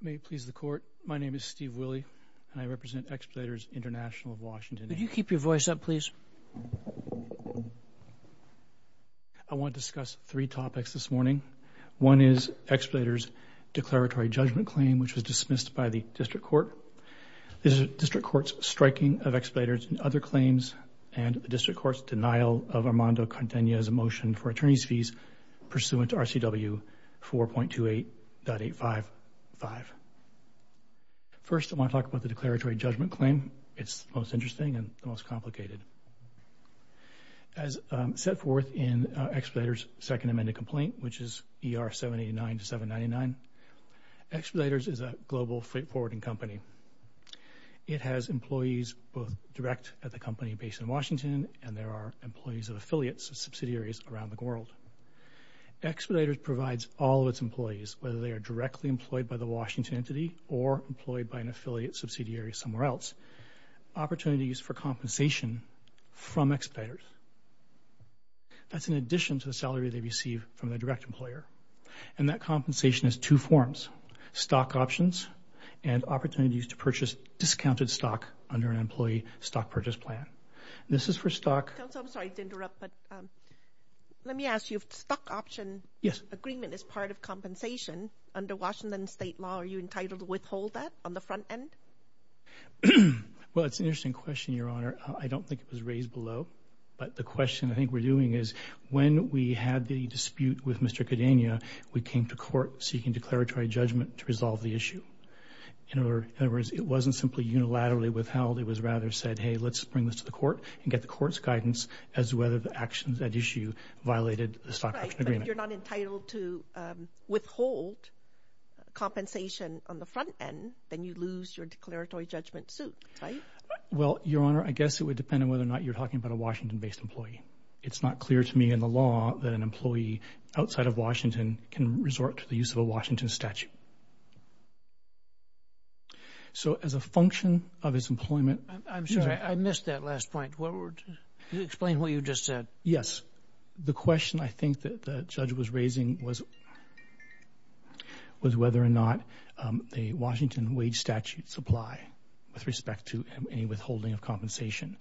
May it please the Court, my name is Steve Willey, and I represent Exploiters International of Washington, Inc. Would you keep your voice up, please? I want to discuss three topics this morning. One is Exploiters' declaratory judgment claim, which was dismissed by the District Court. This is the District Court's striking of Exploiters' and other claims, and the District Court's denial of Armando Contenya's motion for attorney's fees pursuant to RCW 4.28.855. First, I want to talk about the declaratory judgment claim. It's the most interesting and the most complicated. As set forth in Exploiters' second amended complaint, which is ER 789-799, Exploiters is a global freight forwarding company. It has employees both direct at the company based in Washington, and there are employees of affiliates and subsidiaries around the world. Exploiters provides all of its employees, whether they are directly employed by the Washington entity or employed by an affiliate subsidiary somewhere else, opportunities for compensation from Exploiters. That's in addition to the salary they receive from the direct employer. And that compensation is two forms, stock options and opportunities to purchase discounted stock under an employee stock purchase plan. This is for stock. Counsel, I'm sorry to interrupt, but let me ask you if the stock option agreement is part of compensation under Washington state law, are you entitled to withhold that on the front end? Well, it's an interesting question, Your Honor. I don't think it was raised below, but the question I think we're doing is when we had the dispute with Mr. Cadena, we came to court seeking declaratory judgment to resolve the issue. In other words, it wasn't simply unilaterally withheld. It was rather said, hey, let's bring this to the court and get the court's guidance as to whether the actions at issue violated the stock option agreement. Right, but you're not entitled to withhold compensation on the front end, then you lose your declaratory judgment suit, right? Well, Your Honor, I guess it would depend on whether or not you're talking about a Washington-based employee. It's not clear to me in the law that an employee outside of Washington can resort to the use of a Washington statute. So as a function of its employment. I'm sorry, I missed that last point. Explain what you just said. Yes. The question I think that the judge was raising was whether or not the Washington wage statutes apply with respect to any withholding of compensation.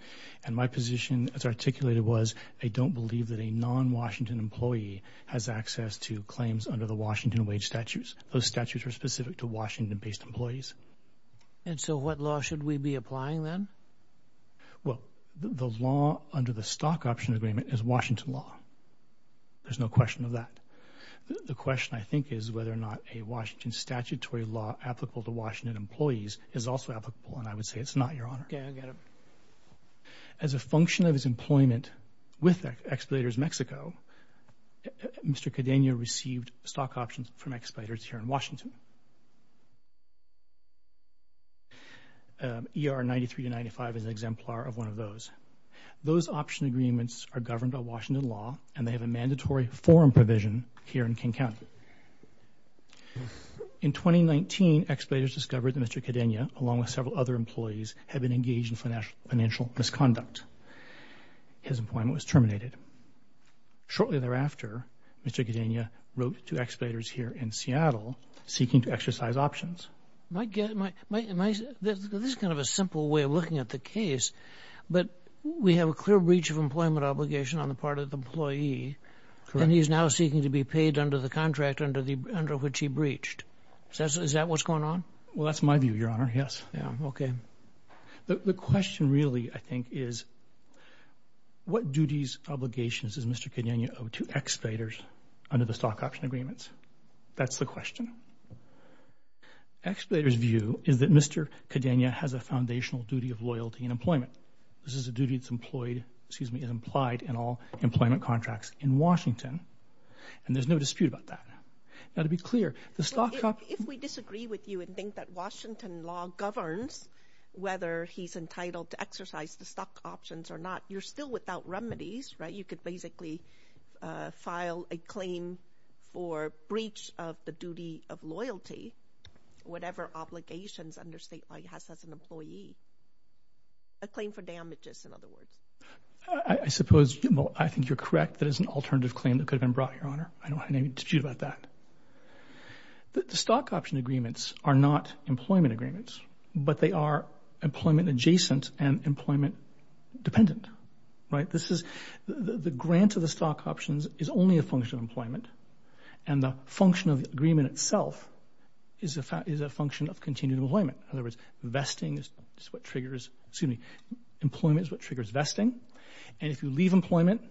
And my position as articulated was I don't believe that a non-Washington employee has access to claims under the Washington wage statutes. Those statutes are specific to Washington-based employees. And so what law should we be applying then? Well, the law under the stock option agreement is Washington law. There's no question of that. The question, I think, is whether or not a Washington statutory law applicable to Washington employees is also applicable. And I would say it's not, Your Honor. Okay, I get it. As a function of its employment with Exploiters Mexico, Mr. Cadena received stock options from exploiters here in Washington. ER 93 to 95 is an exemplar of one of those. Those option agreements are governed by Washington law, and they have a mandatory forum provision here in King County. In 2019, exploiters discovered that Mr. Cadena, along with several other employees, had been engaged in financial misconduct. His employment was terminated. Shortly thereafter, Mr. Cadena wrote to exploiters here in Seattle, seeking to exercise options. This is kind of a simple way of looking at the case, but we have a clear breach of employment obligation on the part of the employee, and he's now seeking to be paid under the contract under which he breached. Is that what's going on? Well, that's my view, Your Honor, yes. Okay. The question really, I think, is what duties, obligations, does Mr. Cadena owe to exploiters under the stock option agreements? That's the question. Exploiters' view is that Mr. Cadena has a foundational duty of loyalty in employment. This is a duty that's employed, excuse me, implied in all employment contracts in Washington, and there's no dispute about that. Now, to be clear, the stock option If we disagree with you and think that Washington law governs whether he's entitled to exercise the stock options or not, you're still without remedies, right? You could basically file a claim for breach of the duty of loyalty, whatever obligations under state law he has as an employee, a claim for damages, in other words. I suppose, well, I think you're correct. That is an alternative claim that could have been brought, Your Honor. I don't have any dispute about that. The stock option agreements are not employment agreements, but they are employment adjacent and employment dependent, right? The grant of the stock options is only a function of employment, and the function of the agreement itself is a function of continued employment. In other words, investing is what triggers, excuse me, employment is what triggers vesting, and if you leave employment,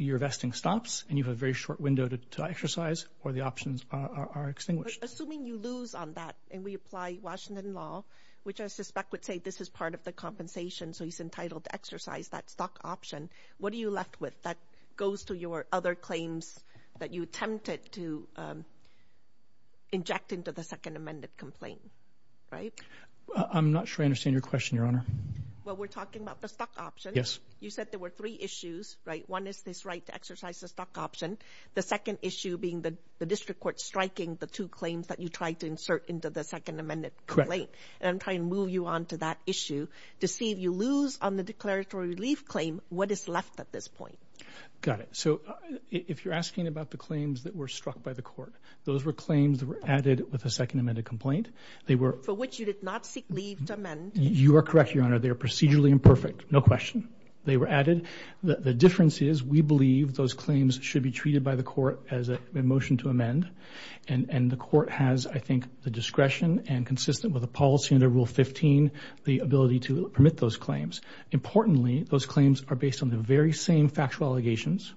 your vesting stops, and you have a very short window to exercise, or the options are extinguished. But assuming you lose on that, and we apply Washington law, which I suspect would say this is part of the compensation, so he's entitled to exercise that stock option, what are you left with? That goes to your other claims that you attempted to inject into the second amended complaint, right? I'm not sure I understand your question, Your Honor. Well, we're talking about the stock option. Yes. You said there were three issues, right? One is this right to exercise the stock option. The second issue being the district court striking the two claims that you tried to insert into the second amended complaint. And I'm trying to move you on to that issue to see if you lose on the declaratory relief claim, what is left at this point? Got it. So if you're asking about the claims that were struck by the court, those were claims that were added with the second amended complaint. For which you did not seek leave to amend. You are correct, Your Honor. They are procedurally imperfect, no question. They were added. The difference is we believe those claims should be treated by the court as a motion to amend, and the court has, I think, the discretion and consistent with the policy under Rule 15, the ability to permit those claims. Importantly, those claims are based on the very same factual allegations.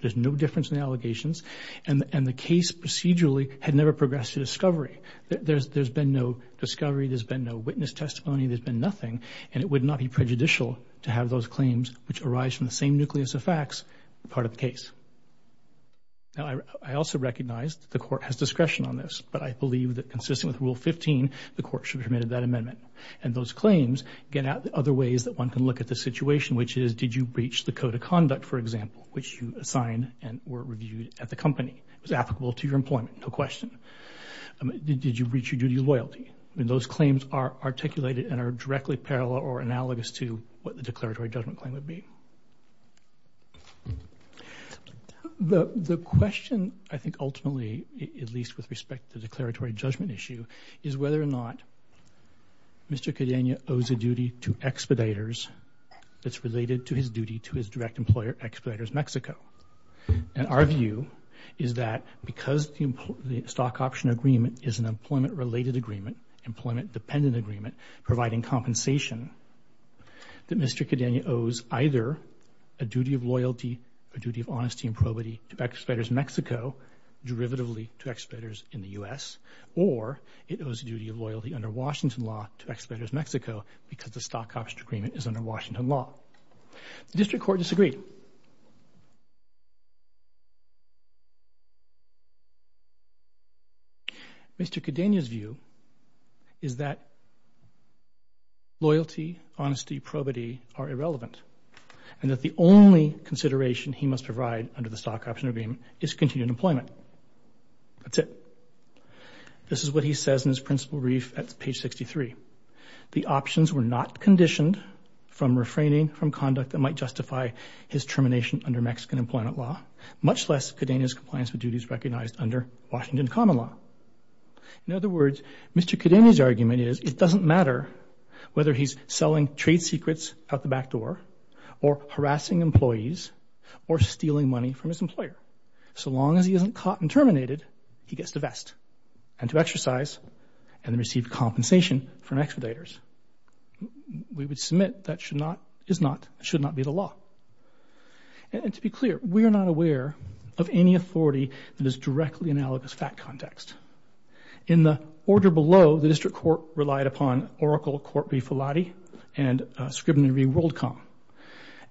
There's no difference in the allegations. And the case procedurally had never progressed to discovery. There's been no discovery. There's been no witness testimony. There's been nothing. And it would not be prejudicial to have those claims, which arise from the same nucleus of facts, part of the case. Now, I also recognize that the court has discretion on this, but I believe that consistent with Rule 15, the court should have made that amendment. And those claims get at other ways that one can look at the situation, which is did you breach the code of conduct, for example, which you assigned and were reviewed at the company? It was applicable to your employment, no question. Did you breach your duty of loyalty? I mean, those claims are articulated and are directly parallel or analogous to what the declaratory judgment claim would be. The question, I think, ultimately, at least with respect to the declaratory judgment issue, is whether or not Mr. Cadena owes a duty to expeditors that's related to his duty to his direct employer, Expeditors Mexico. And our view is that because the stock option agreement is an employment-related agreement, employment-dependent agreement providing compensation, that Mr. Cadena owes either a duty of loyalty or duty of honesty and probity to Expeditors Mexico derivatively to expeditors in the U.S., or it owes a duty of loyalty under Washington law to Expeditors Mexico because the stock option agreement is under Washington law. The district court disagreed. Mr. Cadena's view is that loyalty, honesty, probity are irrelevant and that the only consideration he must provide under the stock option agreement is continued employment. That's it. This is what he says in his principal brief at page 63. The options were not conditioned from refraining from conduct that might justify his termination under Mexican employment law, much less Cadena's compliance with duties recognized under Washington common law. In other words, Mr. Cadena's argument is it doesn't matter whether he's selling trade secrets out the back door or harassing employees or stealing money from his employer. So long as he isn't caught and terminated, he gets to vest and to exercise and receive compensation from expeditors. We would submit that should not, is not, should not be the law. And to be clear, we are not aware of any authority that is directly analogous to that context. In the order below, the district court relied upon Oracle Corp. v. Filotti and Scribner v. Worldcom.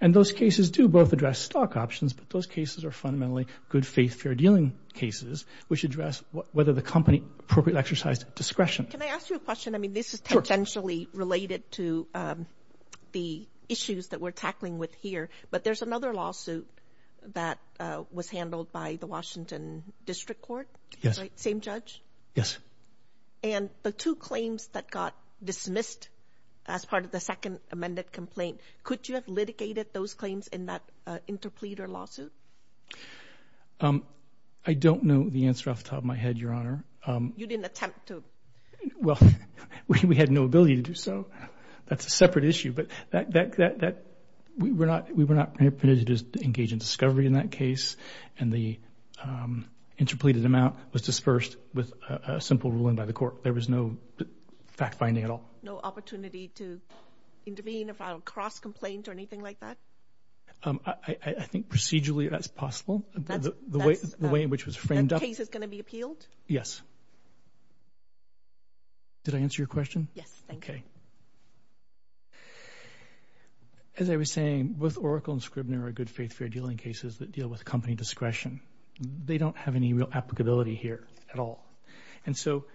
And those cases do both address stock options, but those cases are fundamentally good-faith, fair-dealing cases which address whether the company appropriately exercised discretion. Can I ask you a question? I mean, this is potentially related to the issues that we're tackling with here. But there's another lawsuit that was handled by the Washington district court, right? Same judge? Yes. And the two claims that got dismissed as part of the second amended complaint, could you have litigated those claims in that interpleader lawsuit? I don't know the answer off the top of my head, Your Honor. You didn't attempt to? Well, we had no ability to do so. That's a separate issue. But we were not permitted to engage in discovery in that case. And the interpleaded amount was dispersed with a simple ruling by the court. There was no fact-finding at all. No opportunity to intervene, file a cross-complaint or anything like that? I think procedurally that's possible. The way in which it was framed up. That case is going to be appealed? Yes. Did I answer your question? Yes, thank you. As I was saying, both Oracle and Scribner are good-faith, fair-dealing cases that deal with company discretion. They don't have any real applicability here at all. And so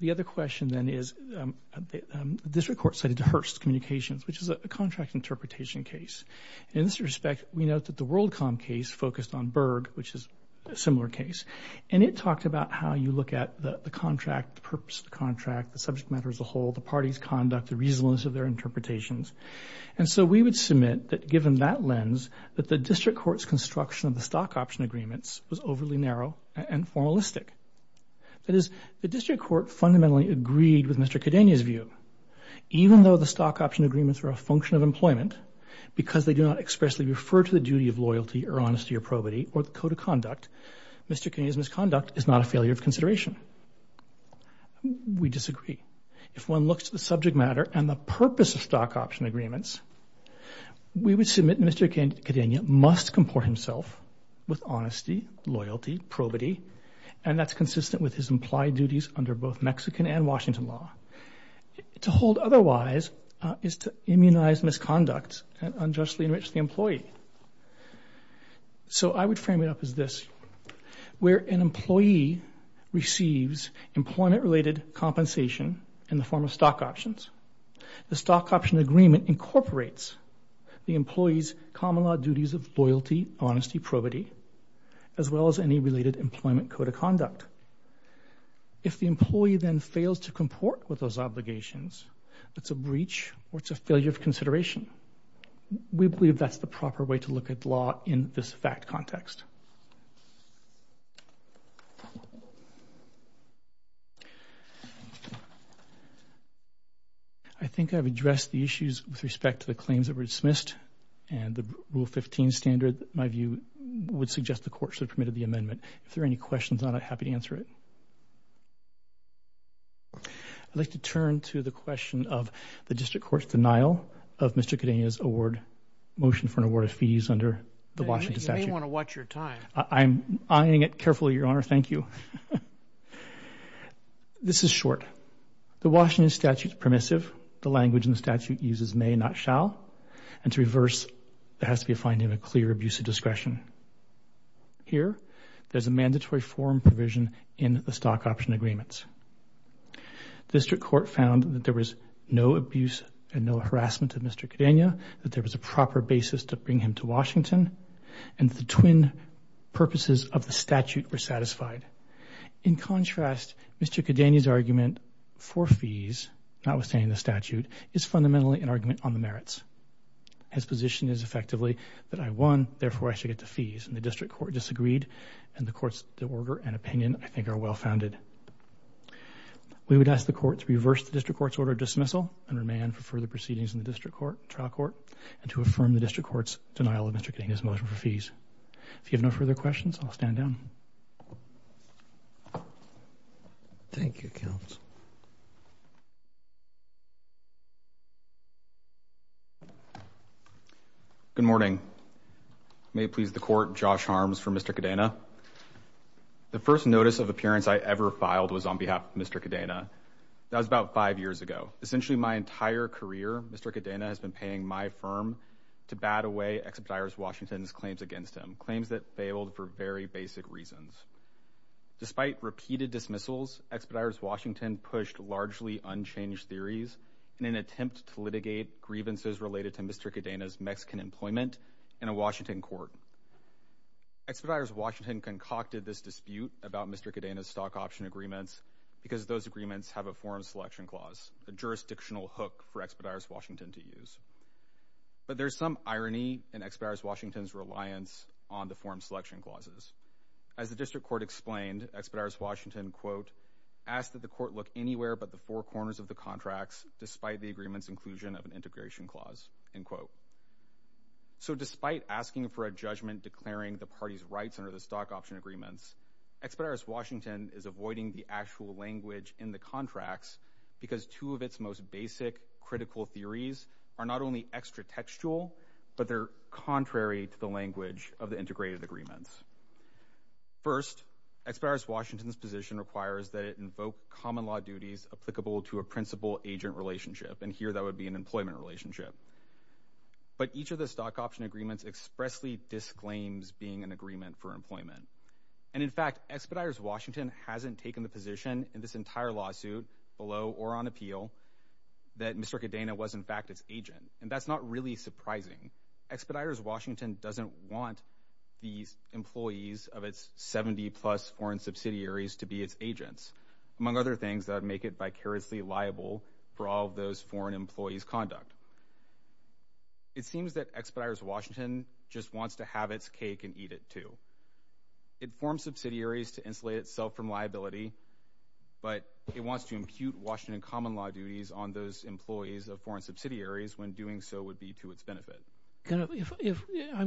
the other question then is, the district court cited Hearst Communications, which is a contract interpretation case. In this respect, we note that the WorldCom case focused on Berg, which is a similar case. And it talked about how you look at the contract, the purpose of the contract, the subject matter as a whole, the party's conduct, the reasonableness of their interpretations. And so we would submit that, given that lens, that the district court's construction of the stock option agreements was overly narrow and formalistic. That is, the district court fundamentally agreed with Mr. Cadenia's view. Even though the stock option agreements were a function of employment, because they do not expressly refer to the duty of loyalty or honesty or probity or the code of conduct, Mr. Cadenia's misconduct is not a failure of consideration. We disagree. If one looks at the subject matter and the purpose of stock option agreements, we would submit Mr. Cadenia must comport himself with honesty, loyalty, probity, and that's consistent with his implied duties under both Mexican and Washington law. To hold otherwise is to immunize misconduct and unjustly enrich the employee. So I would frame it up as this. Where an employee receives employment-related compensation in the form of stock options, the stock option agreement incorporates the employee's common law duties of loyalty, honesty, probity, as well as any related employment code of conduct. If the employee then fails to comport with those obligations, it's a breach or it's a failure of consideration. We believe that's the proper way to look at law in this fact context. I think I've addressed the issues with respect to the claims that were dismissed and the Rule 15 standard, my view, would suggest the Court should have permitted the amendment. If there are any questions, I'm happy to answer it. I'd like to turn to the question of the District Court's denial of Mr. Cadena's motion for an award of fees under the Washington statute. You may want to watch your time. I'm eyeing it carefully, Your Honor. Thank you. This is short. The Washington statute is permissive. The language in the statute uses may, not shall. And to reverse, there has to be a finding of a clear abuse of discretion. Here, there's a mandatory forum provision in the stock option agreements. The District Court found that there was no abuse and no harassment of Mr. Cadena, that there was a proper basis to bring him to Washington, and the twin purposes of the statute were satisfied. In contrast, Mr. Cadena's argument for fees, notwithstanding the statute, is fundamentally an argument on the merits. His position is, effectively, that I won, therefore I should get the fees. And the District Court disagreed, and the Court's order and opinion, I think, are well-founded. We would ask the Court to reverse the District Court's order of dismissal and remand for further proceedings in the District Court, trial court, and to affirm the District Court's denial of Mr. Cadena's motion for fees. If you have no further questions, I'll stand down. Thank you, Counsel. Good morning. May it please the Court, Josh Harms for Mr. Cadena. The first notice of appearance I ever filed was on behalf of Mr. Cadena. That was about five years ago. Essentially, my entire career, Mr. Cadena has been paying my firm to bat away Expeditors Washington's claims against him, claims that failed for very basic reasons. Despite repeated dismissals, Expeditors Washington pushed largely unchanged theories in an attempt to litigate grievances related to Mr. Cadena's Mexican employment in a Washington court. Expeditors Washington concocted this dispute about Mr. Cadena's stock option agreements because those agreements have a forum selection clause, a jurisdictional hook for Expeditors Washington to use. But there's some irony in Expeditors Washington's reliance on the forum selection clauses. As the District Court explained, Expeditors Washington, quote, asked that the court look anywhere but the four corners of the contracts despite the agreement's inclusion of an integration clause, end quote. So despite asking for a judgment declaring the party's rights under the stock option agreements, Expeditors Washington is avoiding the actual language in the contracts because two of its most basic critical theories are not only extra textual, but they're contrary to the language of the integrated agreements. First, Expeditors Washington's position requires that it invoke common law duties applicable to a principal-agent relationship, and here that would be an employment relationship. But each of the stock option agreements expressly disclaims being an agreement for employment. And in fact, Expeditors Washington hasn't taken the position in this entire lawsuit, below or on appeal, that Mr. Cadena was in fact its agent. And that's not really surprising. Expeditors Washington doesn't want the employees of its 70-plus foreign subsidiaries to be its agents, among other things that would make it vicariously liable for all of those foreign employees' conduct. It seems that Expeditors Washington just wants to have its cake and eat it too. It forms subsidiaries to insulate itself from liability, but it wants to impute Washington common law duties on those employees of foreign subsidiaries when doing so would be to its benefit. I'm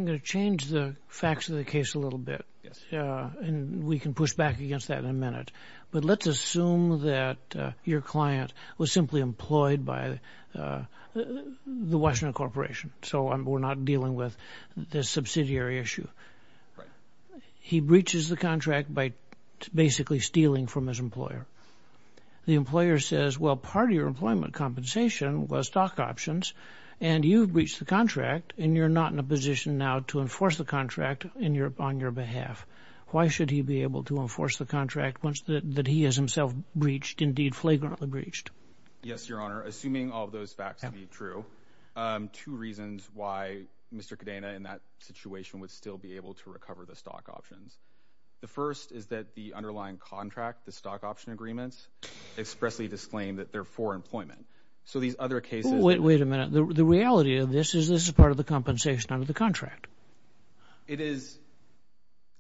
going to change the facts of the case a little bit. Yes. And we can push back against that in a minute. But let's assume that your client was simply employed by the Washington Corporation, so we're not dealing with this subsidiary issue. Right. He breaches the contract by basically stealing from his employer. The employer says, well, part of your employment compensation was stock options, and you've breached the contract, and you're not in a position now to enforce the contract on your behalf. Why should he be able to enforce the contract that he has himself breached, indeed flagrantly breached? Yes, Your Honor. Assuming all of those facts to be true, two reasons why Mr. Cadena in that situation would still be able to recover the stock options. The first is that the underlying contract, the stock option agreements, expressly disclaim that they're for employment. So these other cases... Wait a minute. The reality of this is this is part of the compensation under the contract. It is,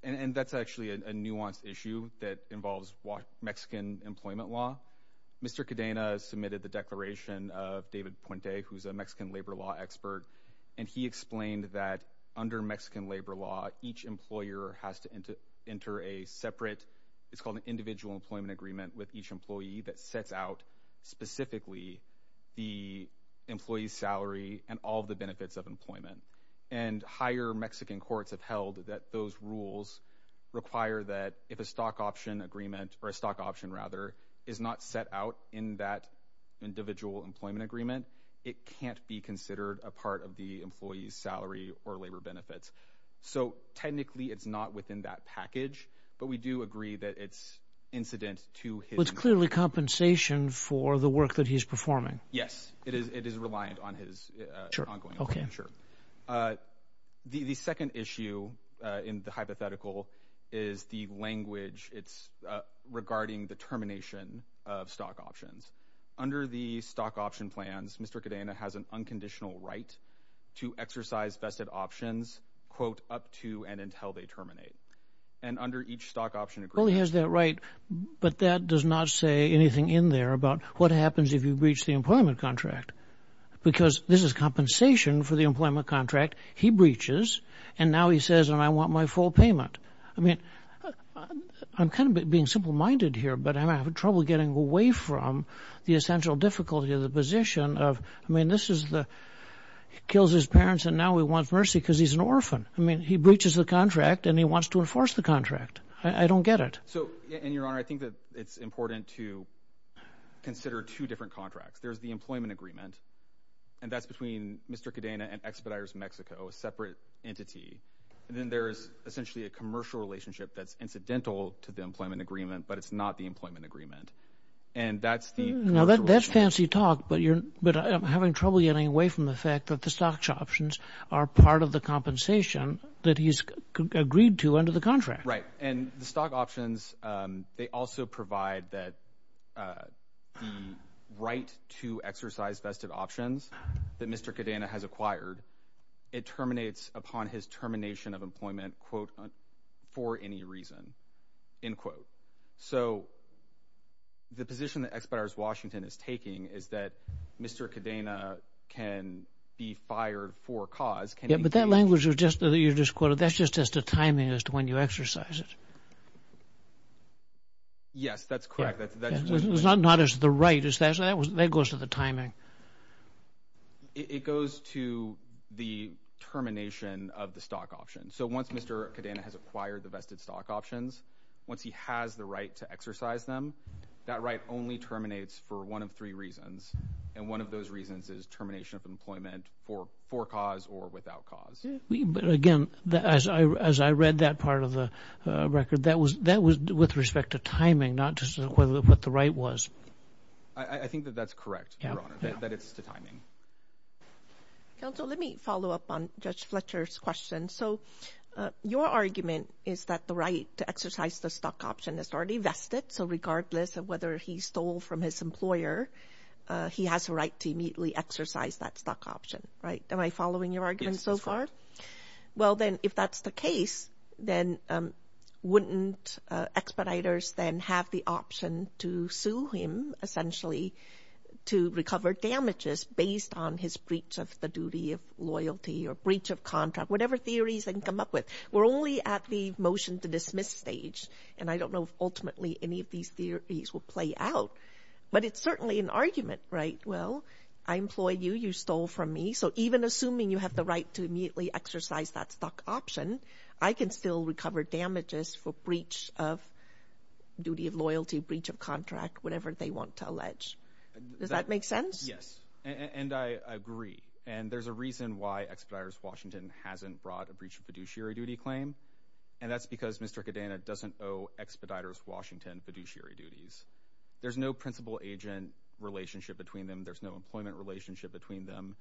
and that's actually a nuanced issue that involves Mexican employment law. Mr. Cadena submitted the declaration of David Puente, who's a Mexican labor law expert, and he explained that under Mexican labor law, each employer has to enter a separate... It's called an individual employment agreement with each employee that sets out specifically the employee's salary and all the benefits of employment. And higher Mexican courts have held that those rules require that if a stock option agreement, or a stock option, rather, is not set out in that individual employment agreement, it can't be considered a part of the employee's salary or labor benefits. So technically, it's not within that package, but we do agree that it's incident to his... Well, it's clearly compensation for the work that he's performing. Yes, it is reliant on his ongoing... Sure, okay. Sure. The second issue in the hypothetical is the language. It's regarding the termination of stock options. Under the stock option plans, Mr. Cadena has an unconditional right to exercise vested options, quote, up to and until they terminate. And under each stock option agreement... Well, he has that right, but that does not say anything in there about what happens if you breach the employment contract, because this is compensation for the employment contract. He breaches, and now he says, and I want my full payment. I mean, I'm kind of being simple-minded here, but I'm having trouble getting away from the essential difficulty of the position of... I mean, this is the... He kills his parents, and now he wants mercy because he's an orphan. I mean, he breaches the contract, and he wants to enforce the contract. I don't get it. So, and, Your Honor, I think that it's important to consider two different contracts. There's the employment agreement, and that's between Mr. Cadena and Expeditors Mexico, a separate entity. And then there is essentially a commercial relationship that's incidental to the employment agreement, but it's not the employment agreement. And that's the commercial relationship. Now, that's fancy talk, but I'm having trouble getting away from the fact that the stock options are part of the compensation that he's agreed to under the contract. Right, and the stock options, they also provide that the right to exercise vested options that Mr. Cadena has acquired, it terminates upon his termination of employment, quote, for any reason, end quote. So the position that Expeditors Washington is taking is that Mr. Cadena can be fired for a cause. Yeah, but that language you just quoted, that's just as to timing as to when you exercise it. Yes, that's correct. It's not as to the right. That goes to the timing. It goes to the termination of the stock options. So once Mr. Cadena has acquired the vested stock options, once he has the right to exercise them, that right only terminates for one of three reasons, and one of those reasons is termination of employment for cause or without cause. But again, as I read that part of the record, that was with respect to timing, not just what the right was. I think that that's correct, Your Honor, that it's to timing. Counsel, let me follow up on Judge Fletcher's question. So your argument is that the right to exercise the stock option is already vested, so regardless of whether he stole from his employer, he has a right to immediately exercise that stock option, right? Am I following your argument so far? Well, then, if that's the case, then wouldn't expeditors then have the option to sue him, essentially, to recover damages based on his breach of the duty of loyalty or breach of contract, whatever theories they can come up with? We're only at the motion-to-dismiss stage, and I don't know if ultimately any of these theories will play out, but it's certainly an argument, right? Well, I employed you, you stole from me, so even assuming you have the right to immediately exercise that stock option, I can still recover damages for breach of duty of loyalty, breach of contract, whatever they want to allege. Does that make sense? Yes, and I agree, and there's a reason why Expeditors Washington hasn't brought a breach of fiduciary duty claim, and that's because Mr. Cadena doesn't owe Expeditors Washington fiduciary duties. There's no principal-agent relationship between them. There's no employment relationship between them.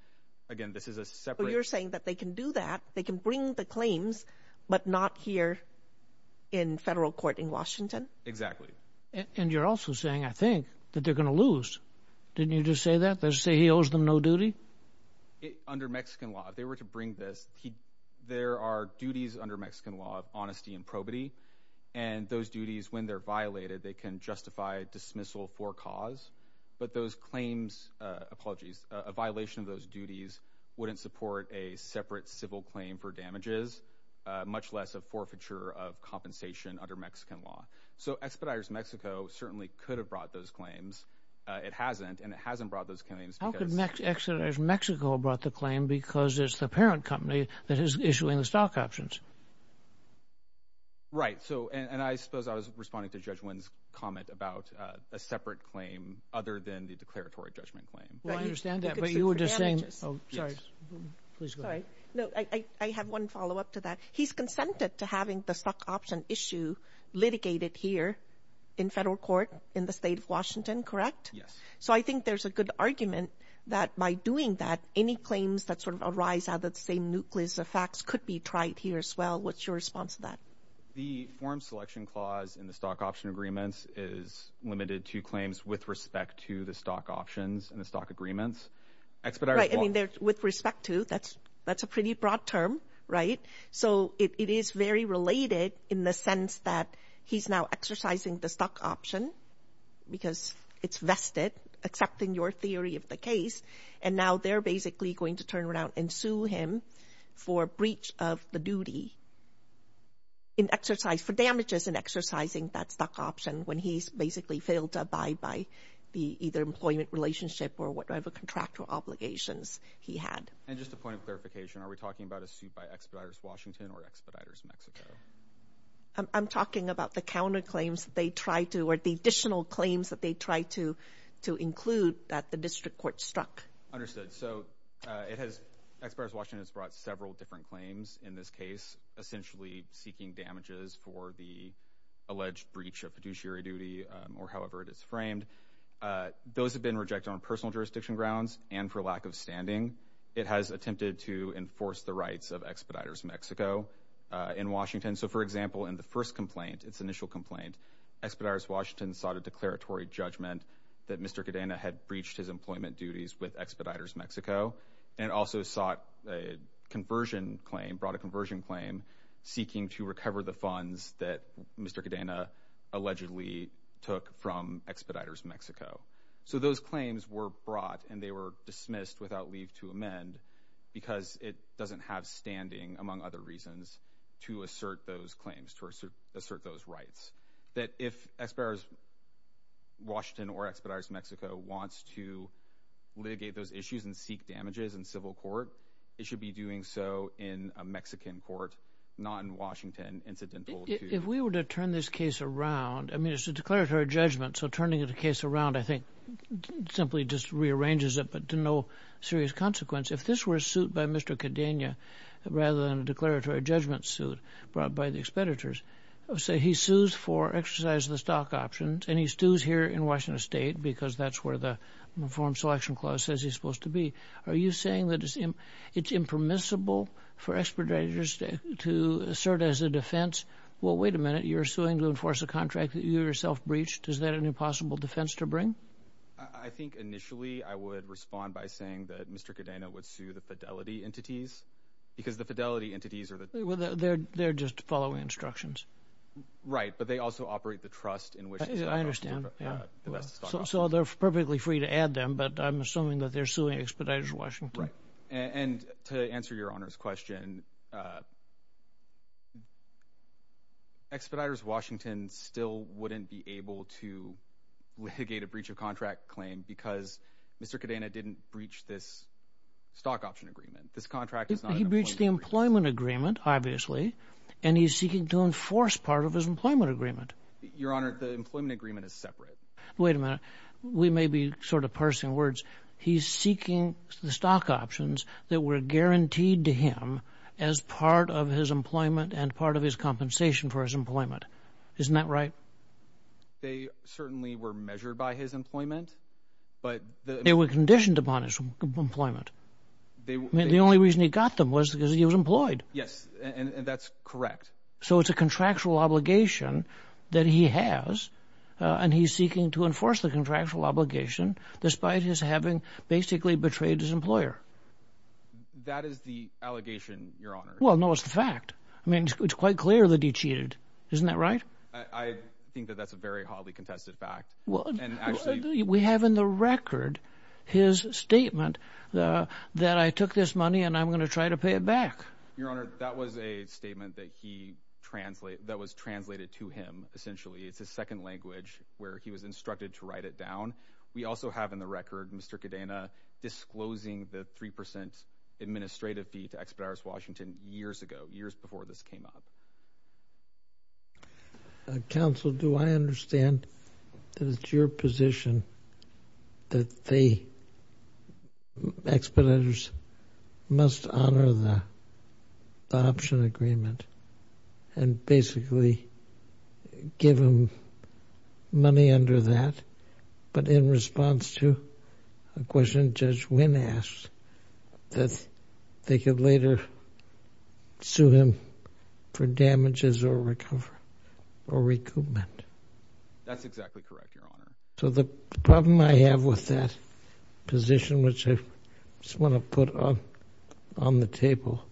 Again, this is a separate— So you're saying that they can do that, they can bring the claims, but not here in federal court in Washington? Exactly. And you're also saying, I think, that they're going to lose. Didn't you just say that? Did you say he owes them no duty? Under Mexican law, if they were to bring this, there are duties under Mexican law of honesty and probity, and those duties, when they're violated, they can justify dismissal for cause, but those claims—apologies, a violation of those duties wouldn't support a separate civil claim for damages, much less a forfeiture of compensation under Mexican law. So Expeditors Mexico certainly could have brought those claims. It hasn't, and it hasn't brought those claims because— How could Expeditors Mexico have brought the claim because it's the parent company that is issuing the stock options? Right. And I suppose I was responding to Judge Wynn's comment about a separate claim other than the declaratory judgment claim. Well, I understand that, but you were just saying— Sorry. Please go ahead. Sorry. No, I have one follow-up to that. He's consented to having the stock option issue litigated here in federal court in the state of Washington, correct? Yes. So I think there's a good argument that by doing that, any claims that sort of arise out of the same nucleus of facts could be tried here as well. What's your response to that? The form selection clause in the stock option agreements is limited to claims with respect to the stock options and the stock agreements. Right. I mean, with respect to, that's a pretty broad term, right? So it is very related in the sense that he's now exercising the stock option because it's vested, accepting your theory of the case, and now they're basically going to turn around and sue him for breach of the duty in exercise— for damages in exercising that stock option when he's basically failed to abide by the either employment relationship or whatever contractual obligations he had. And just a point of clarification, are we talking about a suit by Expeditors Washington or Expeditors Mexico? I'm talking about the counterclaims that they tried to, or the additional claims that they tried to include that the district court struck. Understood. So Expeditors Washington has brought several different claims in this case, essentially seeking damages for the alleged breach of fiduciary duty or however it is framed. Those have been rejected on personal jurisdiction grounds and for lack of standing. It has attempted to enforce the rights of Expeditors Mexico in Washington. So, for example, in the first complaint, its initial complaint, Expeditors Washington sought a declaratory judgment that Mr. Cadena had breached his employment duties with Expeditors Mexico and also sought a conversion claim, brought a conversion claim, seeking to recover the funds that Mr. Cadena allegedly took from Expeditors Mexico. So those claims were brought and they were dismissed without leave to amend because it doesn't have standing, among other reasons, to assert those claims, to assert those rights. That if Expeditors Washington or Expeditors Mexico wants to litigate those issues and seek damages in civil court, it should be doing so in a Mexican court, not in Washington, incidental to… If we were to turn this case around, I mean, it's a declaratory judgment, so turning the case around, I think, simply just rearranges it but to no serious consequence. If this were a suit by Mr. Cadena rather than a declaratory judgment suit brought by the Expeditors, say he sues for exercise of the stock options and he sues here in Washington State because that's where the Reform Selection Clause says he's supposed to be. Are you saying that it's impermissible for Expeditors to assert as a defense well, wait a minute, you're suing to enforce a contract that you yourself breached. Is that an impossible defense to bring? I think initially I would respond by saying that Mr. Cadena would sue the fidelity entities because the fidelity entities are the… They're just following instructions. Right, but they also operate the trust in which… I understand. So they're perfectly free to add them, but I'm assuming that they're suing Expeditors Washington. Right, and to answer Your Honor's question, Expeditors Washington still wouldn't be able to litigate a breach of contract claim because Mr. Cadena didn't breach this stock option agreement. This contract is not an employment agreement. He breached the employment agreement, obviously, and he's seeking to enforce part of his employment agreement. Your Honor, the employment agreement is separate. Wait a minute. We may be sort of parsing words. He's seeking the stock options that were guaranteed to him as part of his employment and part of his compensation for his employment. Isn't that right? They certainly were measured by his employment, but… They were conditioned upon his employment. The only reason he got them was because he was employed. Yes, and that's correct. So it's a contractual obligation that he has, and he's seeking to enforce the contractual obligation despite his having basically betrayed his employer. That is the allegation, Your Honor. Well, no, it's the fact. I mean, it's quite clear that he cheated. Isn't that right? I think that that's a very hotly contested fact. We have in the record his statement that I took this money and I'm going to try to pay it back. Your Honor, that was a statement that was translated to him, essentially. It's a second language where he was instructed to write it down. We also have in the record Mr. Cadena disclosing the 3% administrative fee to Expeditors Washington years ago, years before this came up. Counsel, do I understand that it's your position that the expeditors must honor the option agreement and basically give him money under that, but in response to a question Judge Wynn asked that they could later sue him for damages or recoupment? That's exactly correct, Your Honor. So the problem I have with that position, which I just want to put on the table,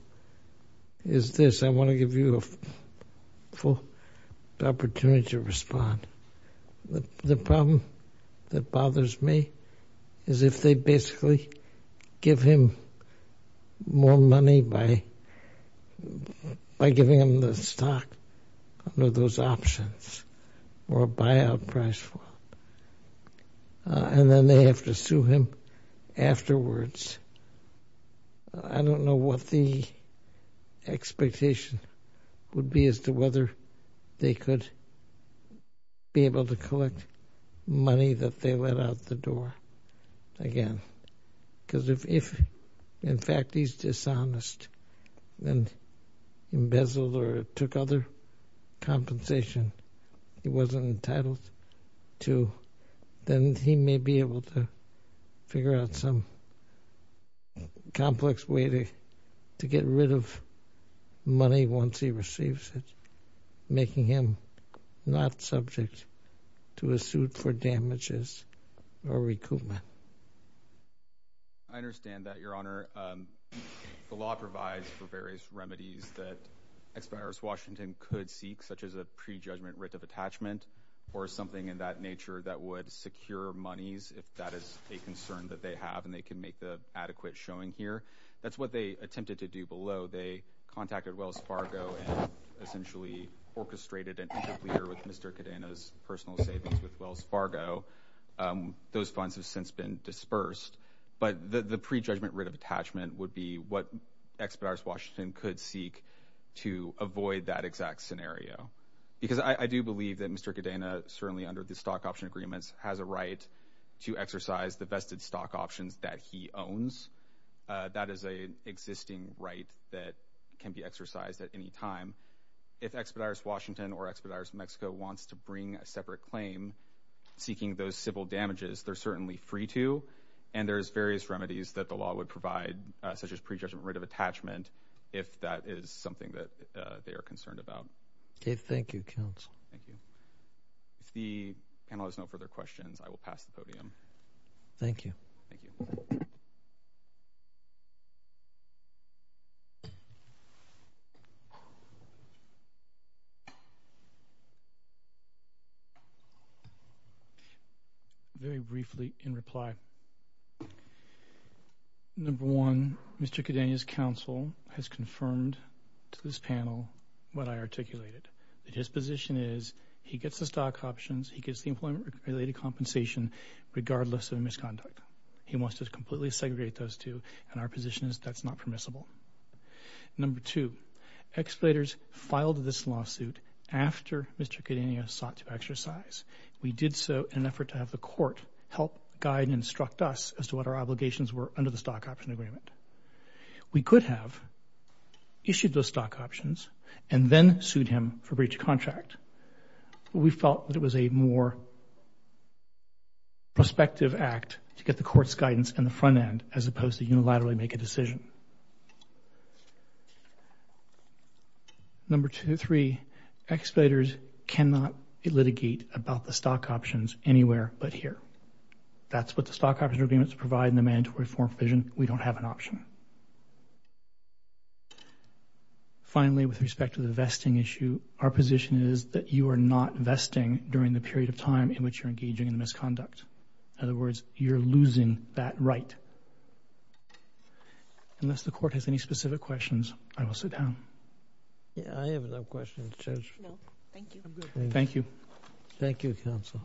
is this. I want to give you a full opportunity to respond. The problem that bothers me is if they basically give him more money by giving him the stock under those options or a buyout price, and then they have to sue him afterwards. I don't know what the expectation would be as to whether they could be able to collect money that they let out the door again. Because if, in fact, he's dishonest and embezzled or took other compensation he wasn't entitled to, then he may be able to figure out some complex way to get rid of money once he receives it, making him not subject to a suit for damages or recoupment. I understand that, Your Honor. The law provides for various remedies that Expeditors Washington could seek, such as a prejudgment writ of attachment or something in that nature that would secure monies, if that is a concern that they have and they can make the adequate showing here. That's what they attempted to do below. They contacted Wells Fargo and essentially orchestrated an interpleader with Mr. Cadena's personal savings with Wells Fargo. Those funds have since been dispersed. But the prejudgment writ of attachment would be what Expeditors Washington could seek to avoid that exact scenario. Because I do believe that Mr. Cadena, certainly under the stock option agreements, has a right to exercise the vested stock options that he owns. That is an existing right that can be exercised at any time. If Expeditors Washington or Expeditors Mexico wants to bring a separate claim seeking those civil damages, they're certainly free to, and there's various remedies that the law would provide, such as prejudgment writ of attachment, if that is something that they are concerned about. Okay. Thank you, counsel. Thank you. If the panel has no further questions, I will pass the podium. Thank you. Thank you. Very briefly in reply. Number one, Mr. Cadena's counsel has confirmed to this panel what I articulated, that his position is he gets the stock options, he gets the employment-related compensation regardless of misconduct. He wants to completely segregate those two, and our position is that's not permissible. Number two, Expeditors filed this lawsuit after Mr. Cadena sought to exercise. We did so in an effort to have the court help guide and instruct us as to what our obligations were under the stock option agreement. We could have issued those stock options and then sued him for breach of contract, but we felt that it was a more prospective act to get the court's guidance in the front end as opposed to unilaterally make a decision. Number two and three, Expeditors cannot litigate about the stock options anywhere but here. That's what the stock option agreements provide in the mandatory form provision. We don't have an option. Finally, with respect to the vesting issue, our position is that you are not vesting during the period of time in which you're engaging in misconduct. In other words, you're losing that right. Unless the court has any specific questions, I will sit down. I have no questions, Judge. Thank you. Thank you. Thank you, counsel.